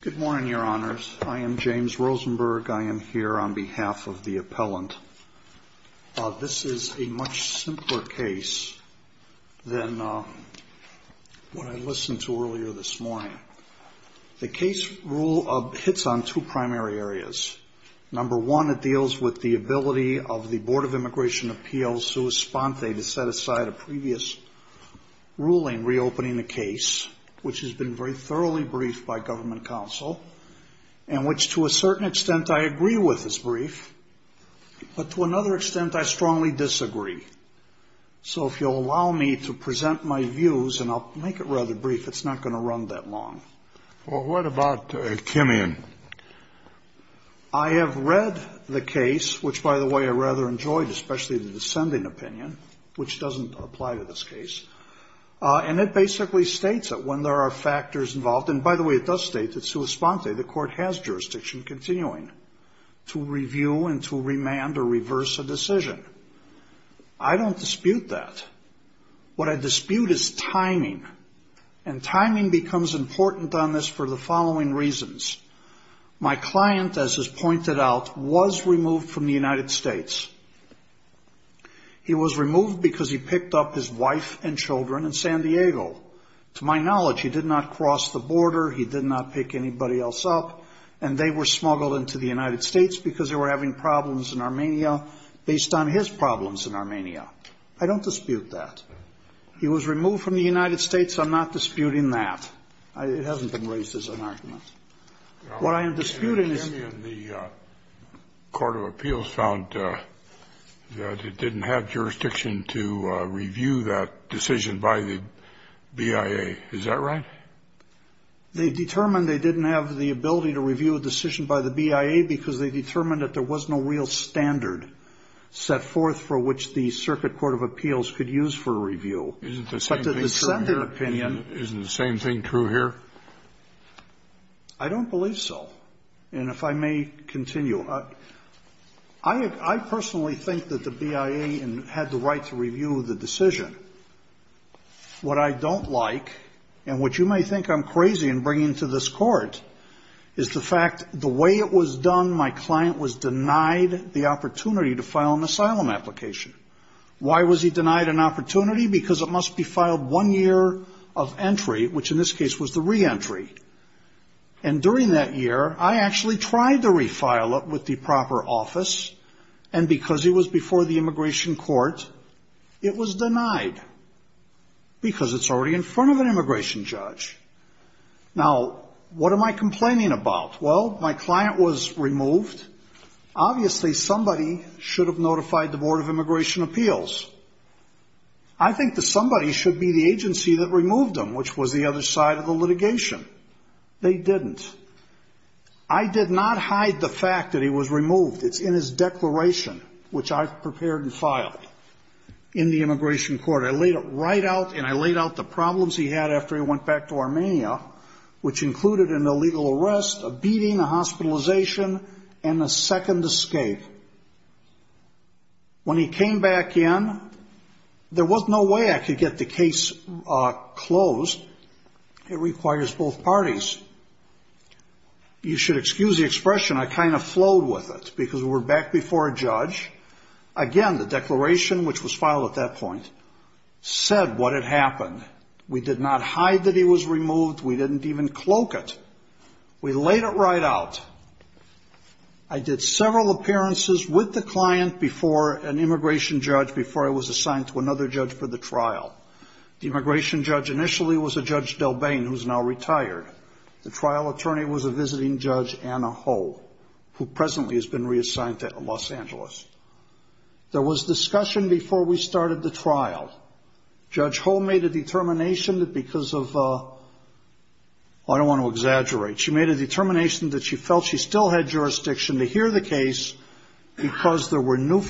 Good morning, your honors. I am James Rosenberg. I am here on behalf of the appellant. This is a much simpler case than what I listened to earlier this morning. The case hits on two primary areas. Number one, it deals with the ability of the Board of Immigration Appeals, sua sponte, to set aside a previous ruling reopening the case, which has been very controversial, and which, to a certain extent, I agree with as brief, but to another extent, I strongly disagree. So if you'll allow me to present my views, and I'll make it rather brief, it's not going to run that long. Well, what about Kimian? I have read the case, which, by the way, I rather enjoyed, especially the descending opinion, which doesn't apply to this case. And it basically states that when there are factors involved, and by the way, it does state that sua sponte, the court has jurisdiction continuing to review and to remand or reverse a decision. I don't dispute that. What I dispute is timing, and timing becomes important on this for the following reasons. My client, as is pointed out, was removed from the United States. He was removed because he picked up his wife and children in San Diego. To my knowledge, he did not cross the border. He did not pick anybody else up. And they were smuggled into the United States because they were having problems in Armenia based on his problems in Armenia. I don't dispute that. He was removed from the United States. I'm not disputing that. It hasn't been raised as an argument. What I am disputing is that the court of appeals found that it didn't have jurisdiction to review that decision by the BIA. Is that right? They determined they didn't have the ability to review a decision by the BIA because they determined that there was no real standard set forth for which the circuit court of appeals could use for review. Isn't the same thing true here? Isn't the same thing true here? I don't believe so. And if I may continue, I personally think that the BIA had the right to review the decision. What I don't like, and what you may think I'm crazy in bringing to this Court, is the fact the way it was done, my client was denied the opportunity to file an asylum application. Why was he denied an opportunity? Because it must be filed one year of entry, which in this case was the reentry. And during that year, I actually tried to refile it with the proper office, and because it was before the immigration court, it was denied because it's already in front of an immigration judge. Now, what am I complaining about? Well, my client was removed. Obviously, somebody should have notified the Board of Immigration Appeals. I think that somebody should be the agency that was on the other side of the litigation. They didn't. I did not hide the fact that he was removed. It's in his declaration, which I prepared and filed in the immigration court. I laid it right out, and I laid out the problems he had after he went back to Armenia, which included an illegal arrest, a beating, a hospitalization, and a second escape. When he came back in, there was no way I could get the case closed. It requires both parties. You should excuse the expression. I kind of flowed with it because we were back before a judge. Again, the declaration, which was filed at that point, said what had happened. We did not hide that he was removed. We didn't even cloak it. We laid it right out. I did several appearances with the client before an immigration judge before I was The immigration judge initially was a Judge Delbane, who is now retired. The trial attorney was a visiting Judge Anna Ho, who presently has been reassigned to Los Angeles. There was discussion before we started the trial. Judge Ho made a determination that because of, I don't want to exaggerate, she made a determination that she felt she still had jurisdiction to hear the case because there were new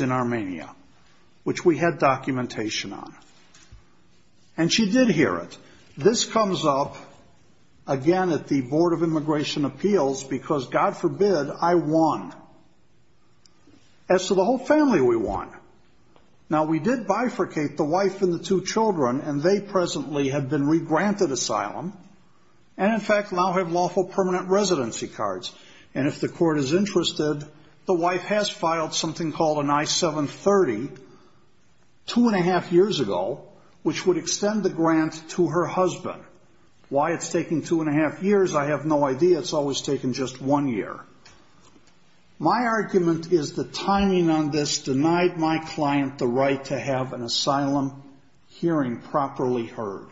in Armenia, which we had documentation on. She did hear it. This comes up again at the Board of Immigration Appeals because, God forbid, I won. As to the whole family, we won. Now, we did bifurcate the wife and the two children, and they presently have been regranted asylum and, in fact, now have lawful permanent residency cards. If the court is interested, the wife has filed something at 730, two and a half years ago, which would extend the grant to her husband. Why it's taking two and a half years, I have no idea. It's always taken just one year. My argument is the timing on this denied my client the right to have an asylum hearing properly heard.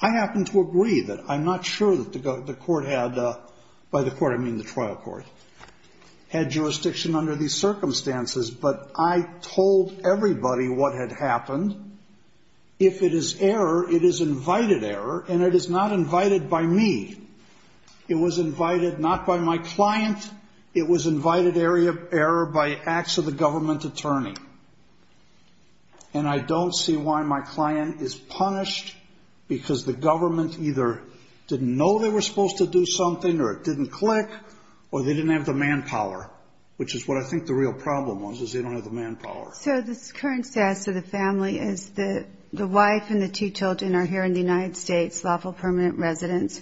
I happen to agree that I'm not sure that the court had, by the court I mean the trial court, had jurisdiction under these conditions. I told everybody what had happened. If it is error, it is invited error, and it is not invited by me. It was invited not by my client. It was invited error by acts of the government attorney. And I don't see why my client is punished because the government either didn't know they were supposed to do something or it didn't click or they didn't have the manpower, which is what I think the real problem was, is they don't have the manpower. So the current status of the family is the wife and the two children are here in the United States, lawful permanent residence.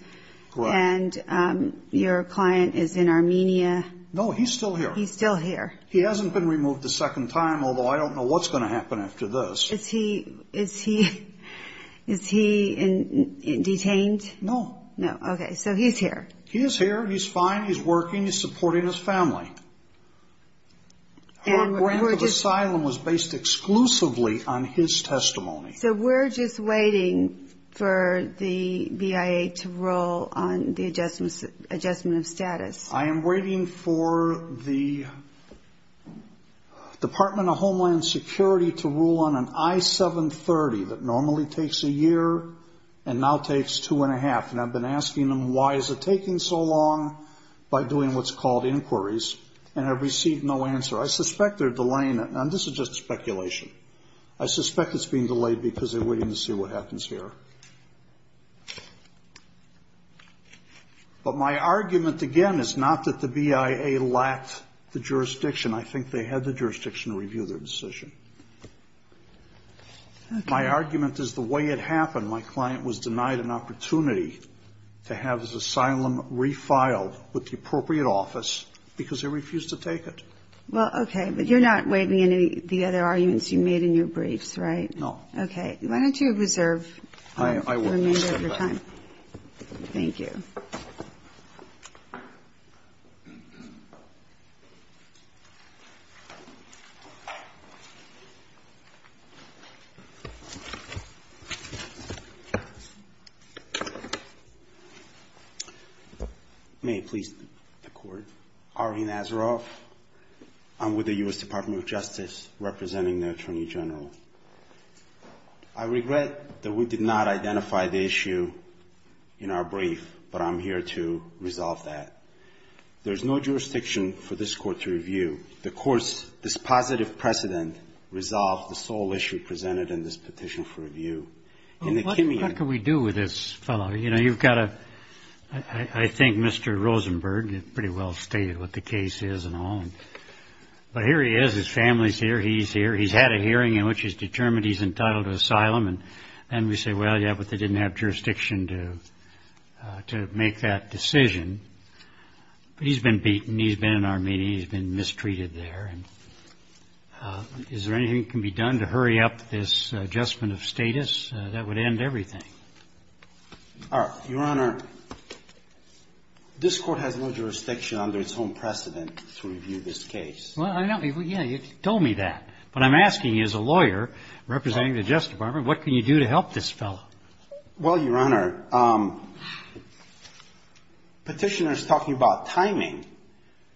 Correct. And your client is in Armenia. No, he's still here. He's still here. He hasn't been removed a second time, although I don't know what's going to happen after this. Is he detained? No. No. Okay, so he's here. He is here. He's fine. He's working. He's working. Her grant of asylum was based exclusively on his testimony. So we're just waiting for the BIA to rule on the adjustment of status. I am waiting for the Department of Homeland Security to rule on an I-730 that normally takes a year and now takes two and a half. And I've been asking them why is it taking so long by doing what's called inquiries, and I've received no answer. I suspect they're delaying it, and this is just speculation. I suspect it's being delayed because they're waiting to see what happens here. But my argument, again, is not that the BIA lacked the jurisdiction. I think they had the jurisdiction to review their decision. My argument is the way it happened. My argument is that the BIA is not going to approve the BIA's asylum refile with the appropriate office because they refuse to take it. Well, okay. But you're not waiving any of the other arguments you made in your briefs, right? No. Okay. Why don't you reserve the remainder of your time. I will. Thank you. May it please the Court. Ari Nazaroff. I'm with the U.S. Department of Justice representing the Attorney General. I regret that we did not identify the issue in our brief, but I'm here to resolve that. There's no jurisdiction for this Court to review. The Court's dispositive precedent resolved the sole issue presented in this petition for review. What can we do with this fellow? You know, you've got a, I think Mr. Rosenberg pretty well stated what the case is and all. But here he is, his family's here, he's here, he's had a hearing in which he's determined he's entitled to asylum. And we say, well, yeah, but they didn't have jurisdiction to make that decision. He's been beaten. He's been in Armenia. He's been mistreated there. And is there anything that can be done to hurry up this adjustment of status? That would end everything. All right. Your Honor, this Court has no jurisdiction under its own precedent to review this case. Well, I know. Yeah, you told me that. But I'm asking you as a lawyer representing the Justice Department, what can you do to help this fellow? Well, Your Honor, Petitioner's talking about timing.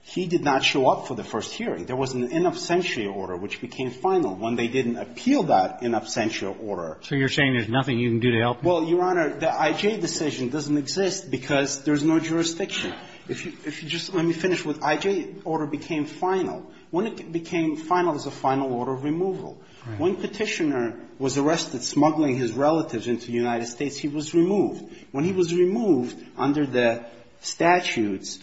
He did not show up for the final when they didn't appeal that in absentia order. So you're saying there's nothing you can do to help him? Well, Your Honor, the I.J. decision doesn't exist because there's no jurisdiction. If you just let me finish with I.J. order became final. When it became final is a final order of removal. Right. When Petitioner was arrested smuggling his relatives into the United States, he was removed. When he was removed under the statutes,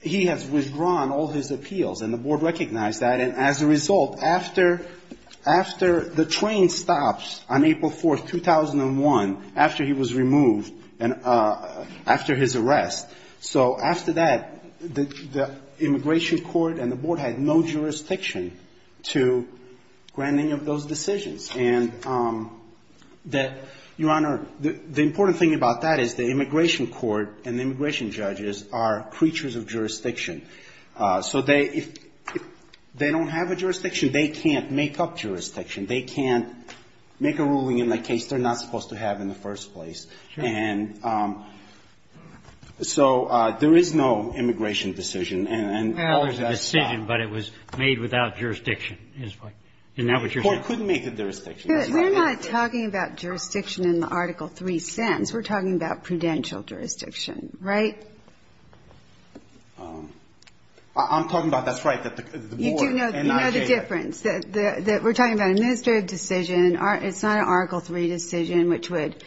he has withdrawn all his appeals, and the Board recognized that. And as a result, after the train stops on April 4th, 2001, after he was removed and after his arrest, so after that, the Immigration Court and the Board had no jurisdiction to grant any of those decisions. And Your Honor, the important thing about that is the Immigration Court and the Immigration So they, if they don't have a jurisdiction, they can't make up jurisdiction. They can't make a ruling in a case they're not supposed to have in the first place. And so there is no immigration decision. And others have stopped. Well, there's a decision, but it was made without jurisdiction, isn't that what you're saying? The Court couldn't make a jurisdiction. We're not talking about jurisdiction in the Article III sense. We're talking about prudential jurisdiction, right? I'm talking about, that's right, that the Board and IJ... You do know the difference. We're talking about an administrative decision. It's not an Article III decision, which would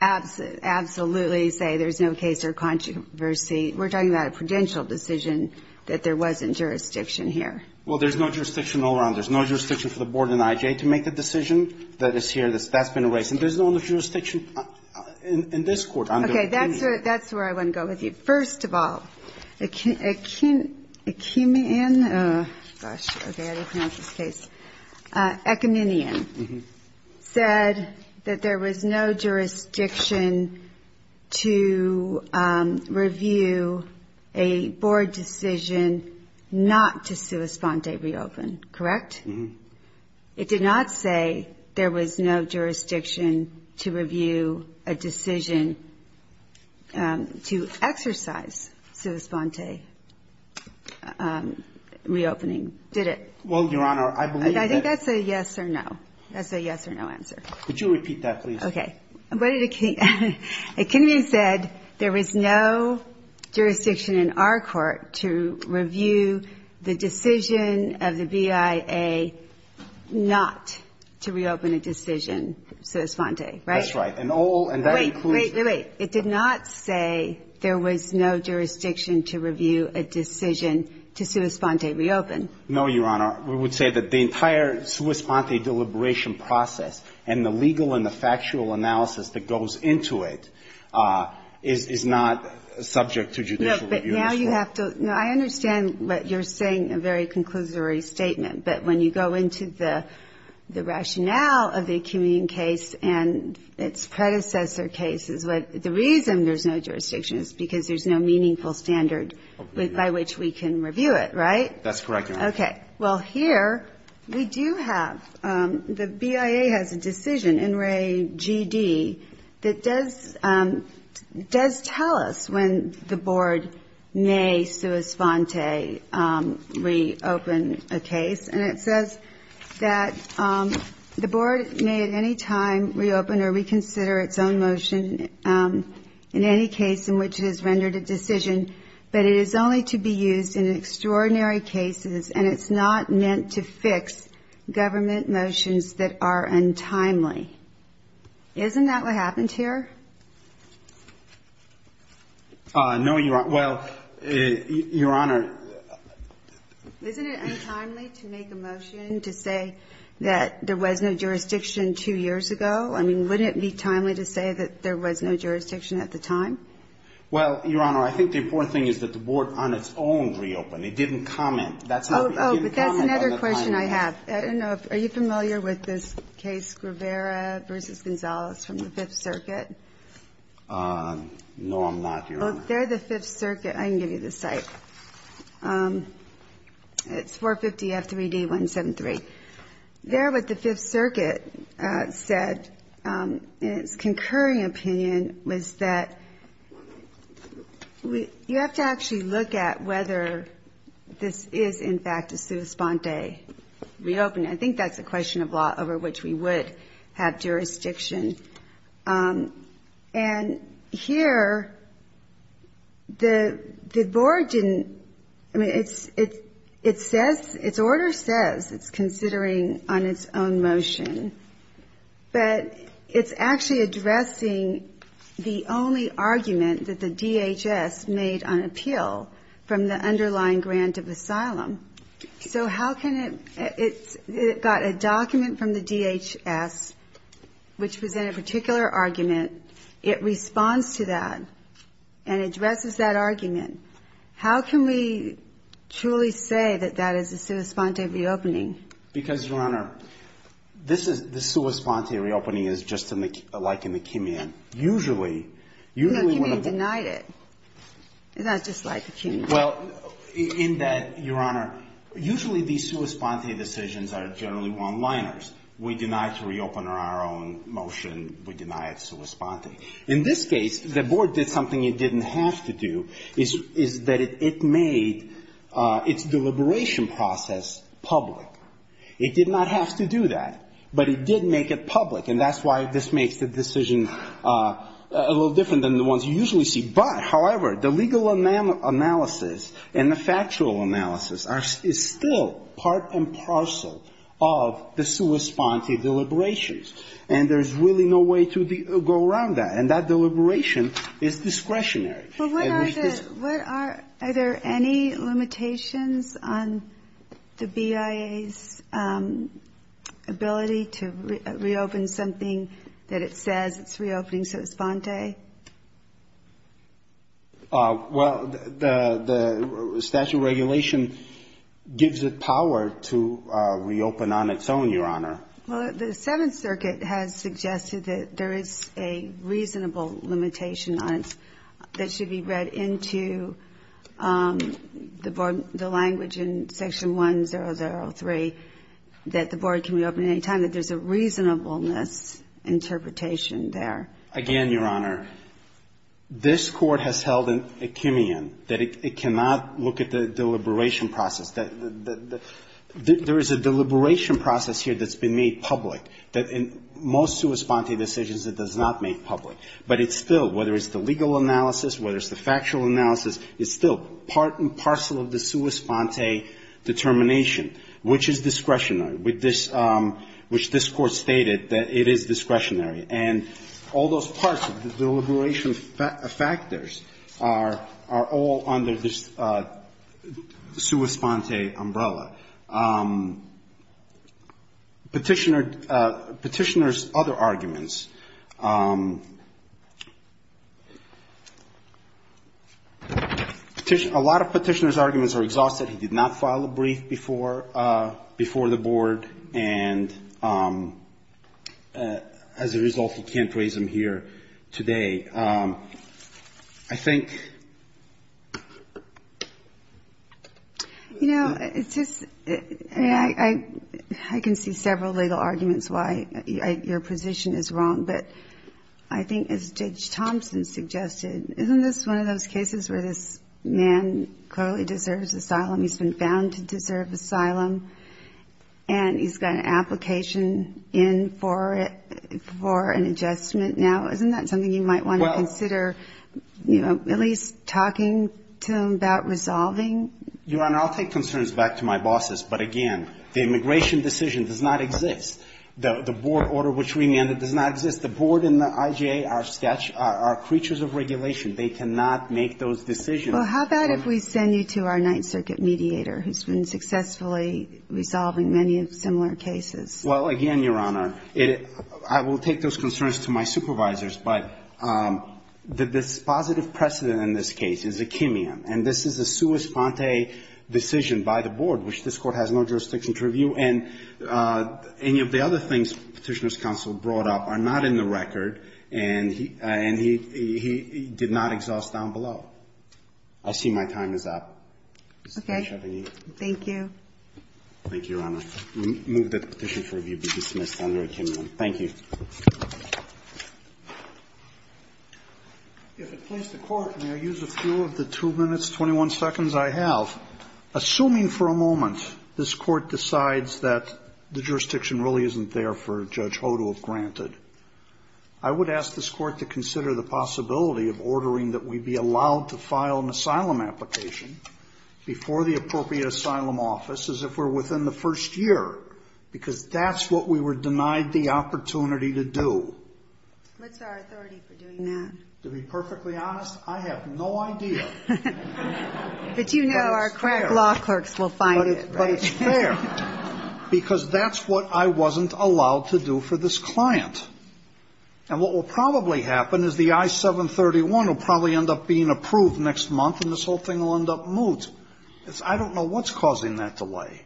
absolutely say there's no case or controversy. We're talking about a prudential decision that there wasn't jurisdiction here. Well, there's no jurisdiction all around. There's no jurisdiction for the Board and IJ to make the decision that is here. That's been erased. And there's no jurisdiction in this Court. Okay, that's where I want to go with you. First of all, Ekiminian said that there was no jurisdiction to review a Board decision not to sua sponde reopen, correct? It did not say there was no jurisdiction to review a decision to exercise sua sponde reopening, did it? Well, Your Honor, I believe that... I think that's a yes or no. That's a yes or no answer. Could you repeat that, please? Okay. What did Ekiminian... Ekiminian said there was no jurisdiction in our Court to review the decision of the BIA not to reopen a decision sua sponde, right? That's right. And all... Wait, wait, wait. It did not say there was no jurisdiction to review a decision to sua sponde reopen. No, Your Honor. We would say that the entire sua sponde deliberation process and the legal and the factual analysis that goes into it is not subject to judicial review in this Court. Now you have to... I understand what you're saying, a very conclusory statement, but when you go into the rationale of the Ekiminian case and its predecessor cases, the reason there's no jurisdiction is because there's no meaningful standard by which we can review it, right? That's correct, Your Honor. Okay. Well, here we do have... The BIA has a decision in Re GD that does tell us when the Board may sua sponde reopen a case, and it says that the Board may at any time reopen or reconsider its own motion in any case in which it has rendered a decision, but it is only to be used in extraordinary cases, and it's not meant to fix government motions that are untimely. Isn't that what happened here? No, Your Honor. Well, Your Honor... Isn't it untimely to make a motion to say that there was no jurisdiction two years ago? I mean, wouldn't it be timely to say that there was no jurisdiction at the time? Well, Your Honor, I think the important thing is that the Board on its own reopened. It didn't comment. Oh, but that's another question I have. I don't know if... Are you familiar with this case, Guevara v. Gonzales from the Fifth Circuit? No, I'm not, Your Honor. There, the Fifth Circuit... I can give you the site. It's 450F3D173. There, what the Fifth Circuit said in its concurring opinion was that you have to actually look at whether this is, in fact, a sua sponde. Reopening. I think that's a question of law over which we would have jurisdiction. And here, the Board didn't... I mean, it says, its order says it's considering on its own motion, but it's actually addressing the only argument that the DHS made on appeal from the underlying grant of asylum. So how can it... It got a document from the DHS, which presented a particular argument. It responds to that and addresses that argument. How can we truly say that that is a sua sponde reopening? Because, Your Honor, this sua sponde reopening is just like a McKimian. Usually... But McKimian denied it. It's not just like a McKimian. Well, in that, Your Honor, usually the sua sponde decisions are generally one-liners. We deny to reopen on our own motion. We deny it sua sponde. In this case, the Board did something it didn't have to do, is that it made its deliberation process public. It did not have to do that, but it did make it public. And that's why this makes the decision a little different than the ones you usually see. But, however, the legal analysis and the factual analysis is still part and parcel of the sua sponde deliberations. And there's really no way to go around that. And that deliberation is discretionary. But what are the... What are... Are there any limitations on the BIA's ability to reopen something that it says it's reopening sua sponde? Well, the statute of regulation gives it power to reopen on its own, Your Honor. Well, the Seventh Circuit has suggested that there is a reasonable limitation on it that should be read into the language in Section 1003, that the Board can reopen at any time, that there's a reasonableness interpretation there. Again, Your Honor, this Court has held an echemean, that it cannot look at the deliberation process, that there is a deliberation process here that's been made public, that in most sua sponde decisions it does not make public. But it's still, whether it's the legal analysis, whether it's the factual analysis, it's still part and parcel of the sua sponde determination, which is discretionary, which this Court stated that it is discretionary. And all those parts of the deliberation factors are all under this sua sponde umbrella. Petitioner... Petitioner's other arguments... A lot of petitioner's arguments are exhausted. He did not file a brief before the Board. And as a result, he can't raise them here today. I think... You know, it's just, I mean, I can see several legal arguments why your position is wrong, but I think as Judge Thompson suggested, isn't this one of those cases where this man clearly deserves asylum? He's been found to deserve asylum. And he's got an application in for it, for an adjustment now. Isn't that something you might want to consider, you know, at least talking to him about resolving? Your Honor, I'll take concerns back to my bosses. But again, the immigration decision does not exist. The Board order which we amended does not exist. The Board and the IJA are creatures of regulation. They cannot make those decisions. Well, how about if we send you to our Ninth Circuit mediator who's been successfully resolving many similar cases? Well, again, Your Honor, I will take those concerns to my supervisors. But the dispositive precedent in this case is akimian. And this is a sua sponte decision by the Board, which this Court has no jurisdiction to review. And any of the other things Petitioner's counsel brought up are not in the record. And he did not exhaust down below. I see my time is up. Okay. Thank you. Thank you, Your Honor. I move that the petition for review be dismissed under akimian. Thank you. If it please the Court, may I use a few of the 2 minutes, 21 seconds I have? Assuming for a moment this Court decides that the jurisdiction really isn't there for Judge Hoh to have granted, I would ask this Court to consider the possibility of ordering that we be allowed to file an asylum application before the appropriate asylum office as if we're within the first year, because that's what we were denied the opportunity to do. What's our authority for doing that? To be perfectly honest, I have no idea. But you know our correct law clerks will find it, right? But it's fair, because that's what I wasn't allowed to do for this client. And what will probably happen is the I-731 will probably end up being approved next month, and this whole thing will end up moot. I don't know what's causing that delay.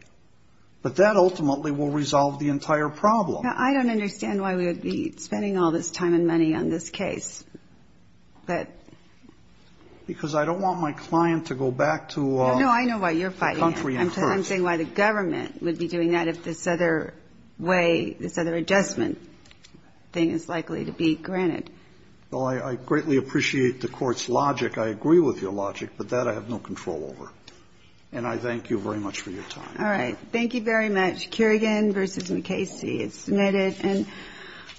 But that ultimately will resolve the entire problem. Now, I don't understand why we would be spending all this time and money on this case. But... Because I don't want my client to go back to the country in first. No, I know why you're fighting. I'm saying why the government would be doing that if this other way, this other adjustment thing is likely to be granted. Well, I greatly appreciate the Court's logic. I agree with your logic. But that I have no control over. And I thank you very much for your time. All right. Thank you very much. Kerrigan v. McKayse is submitted, and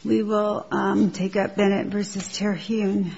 we will take up Bennett v. Terhune.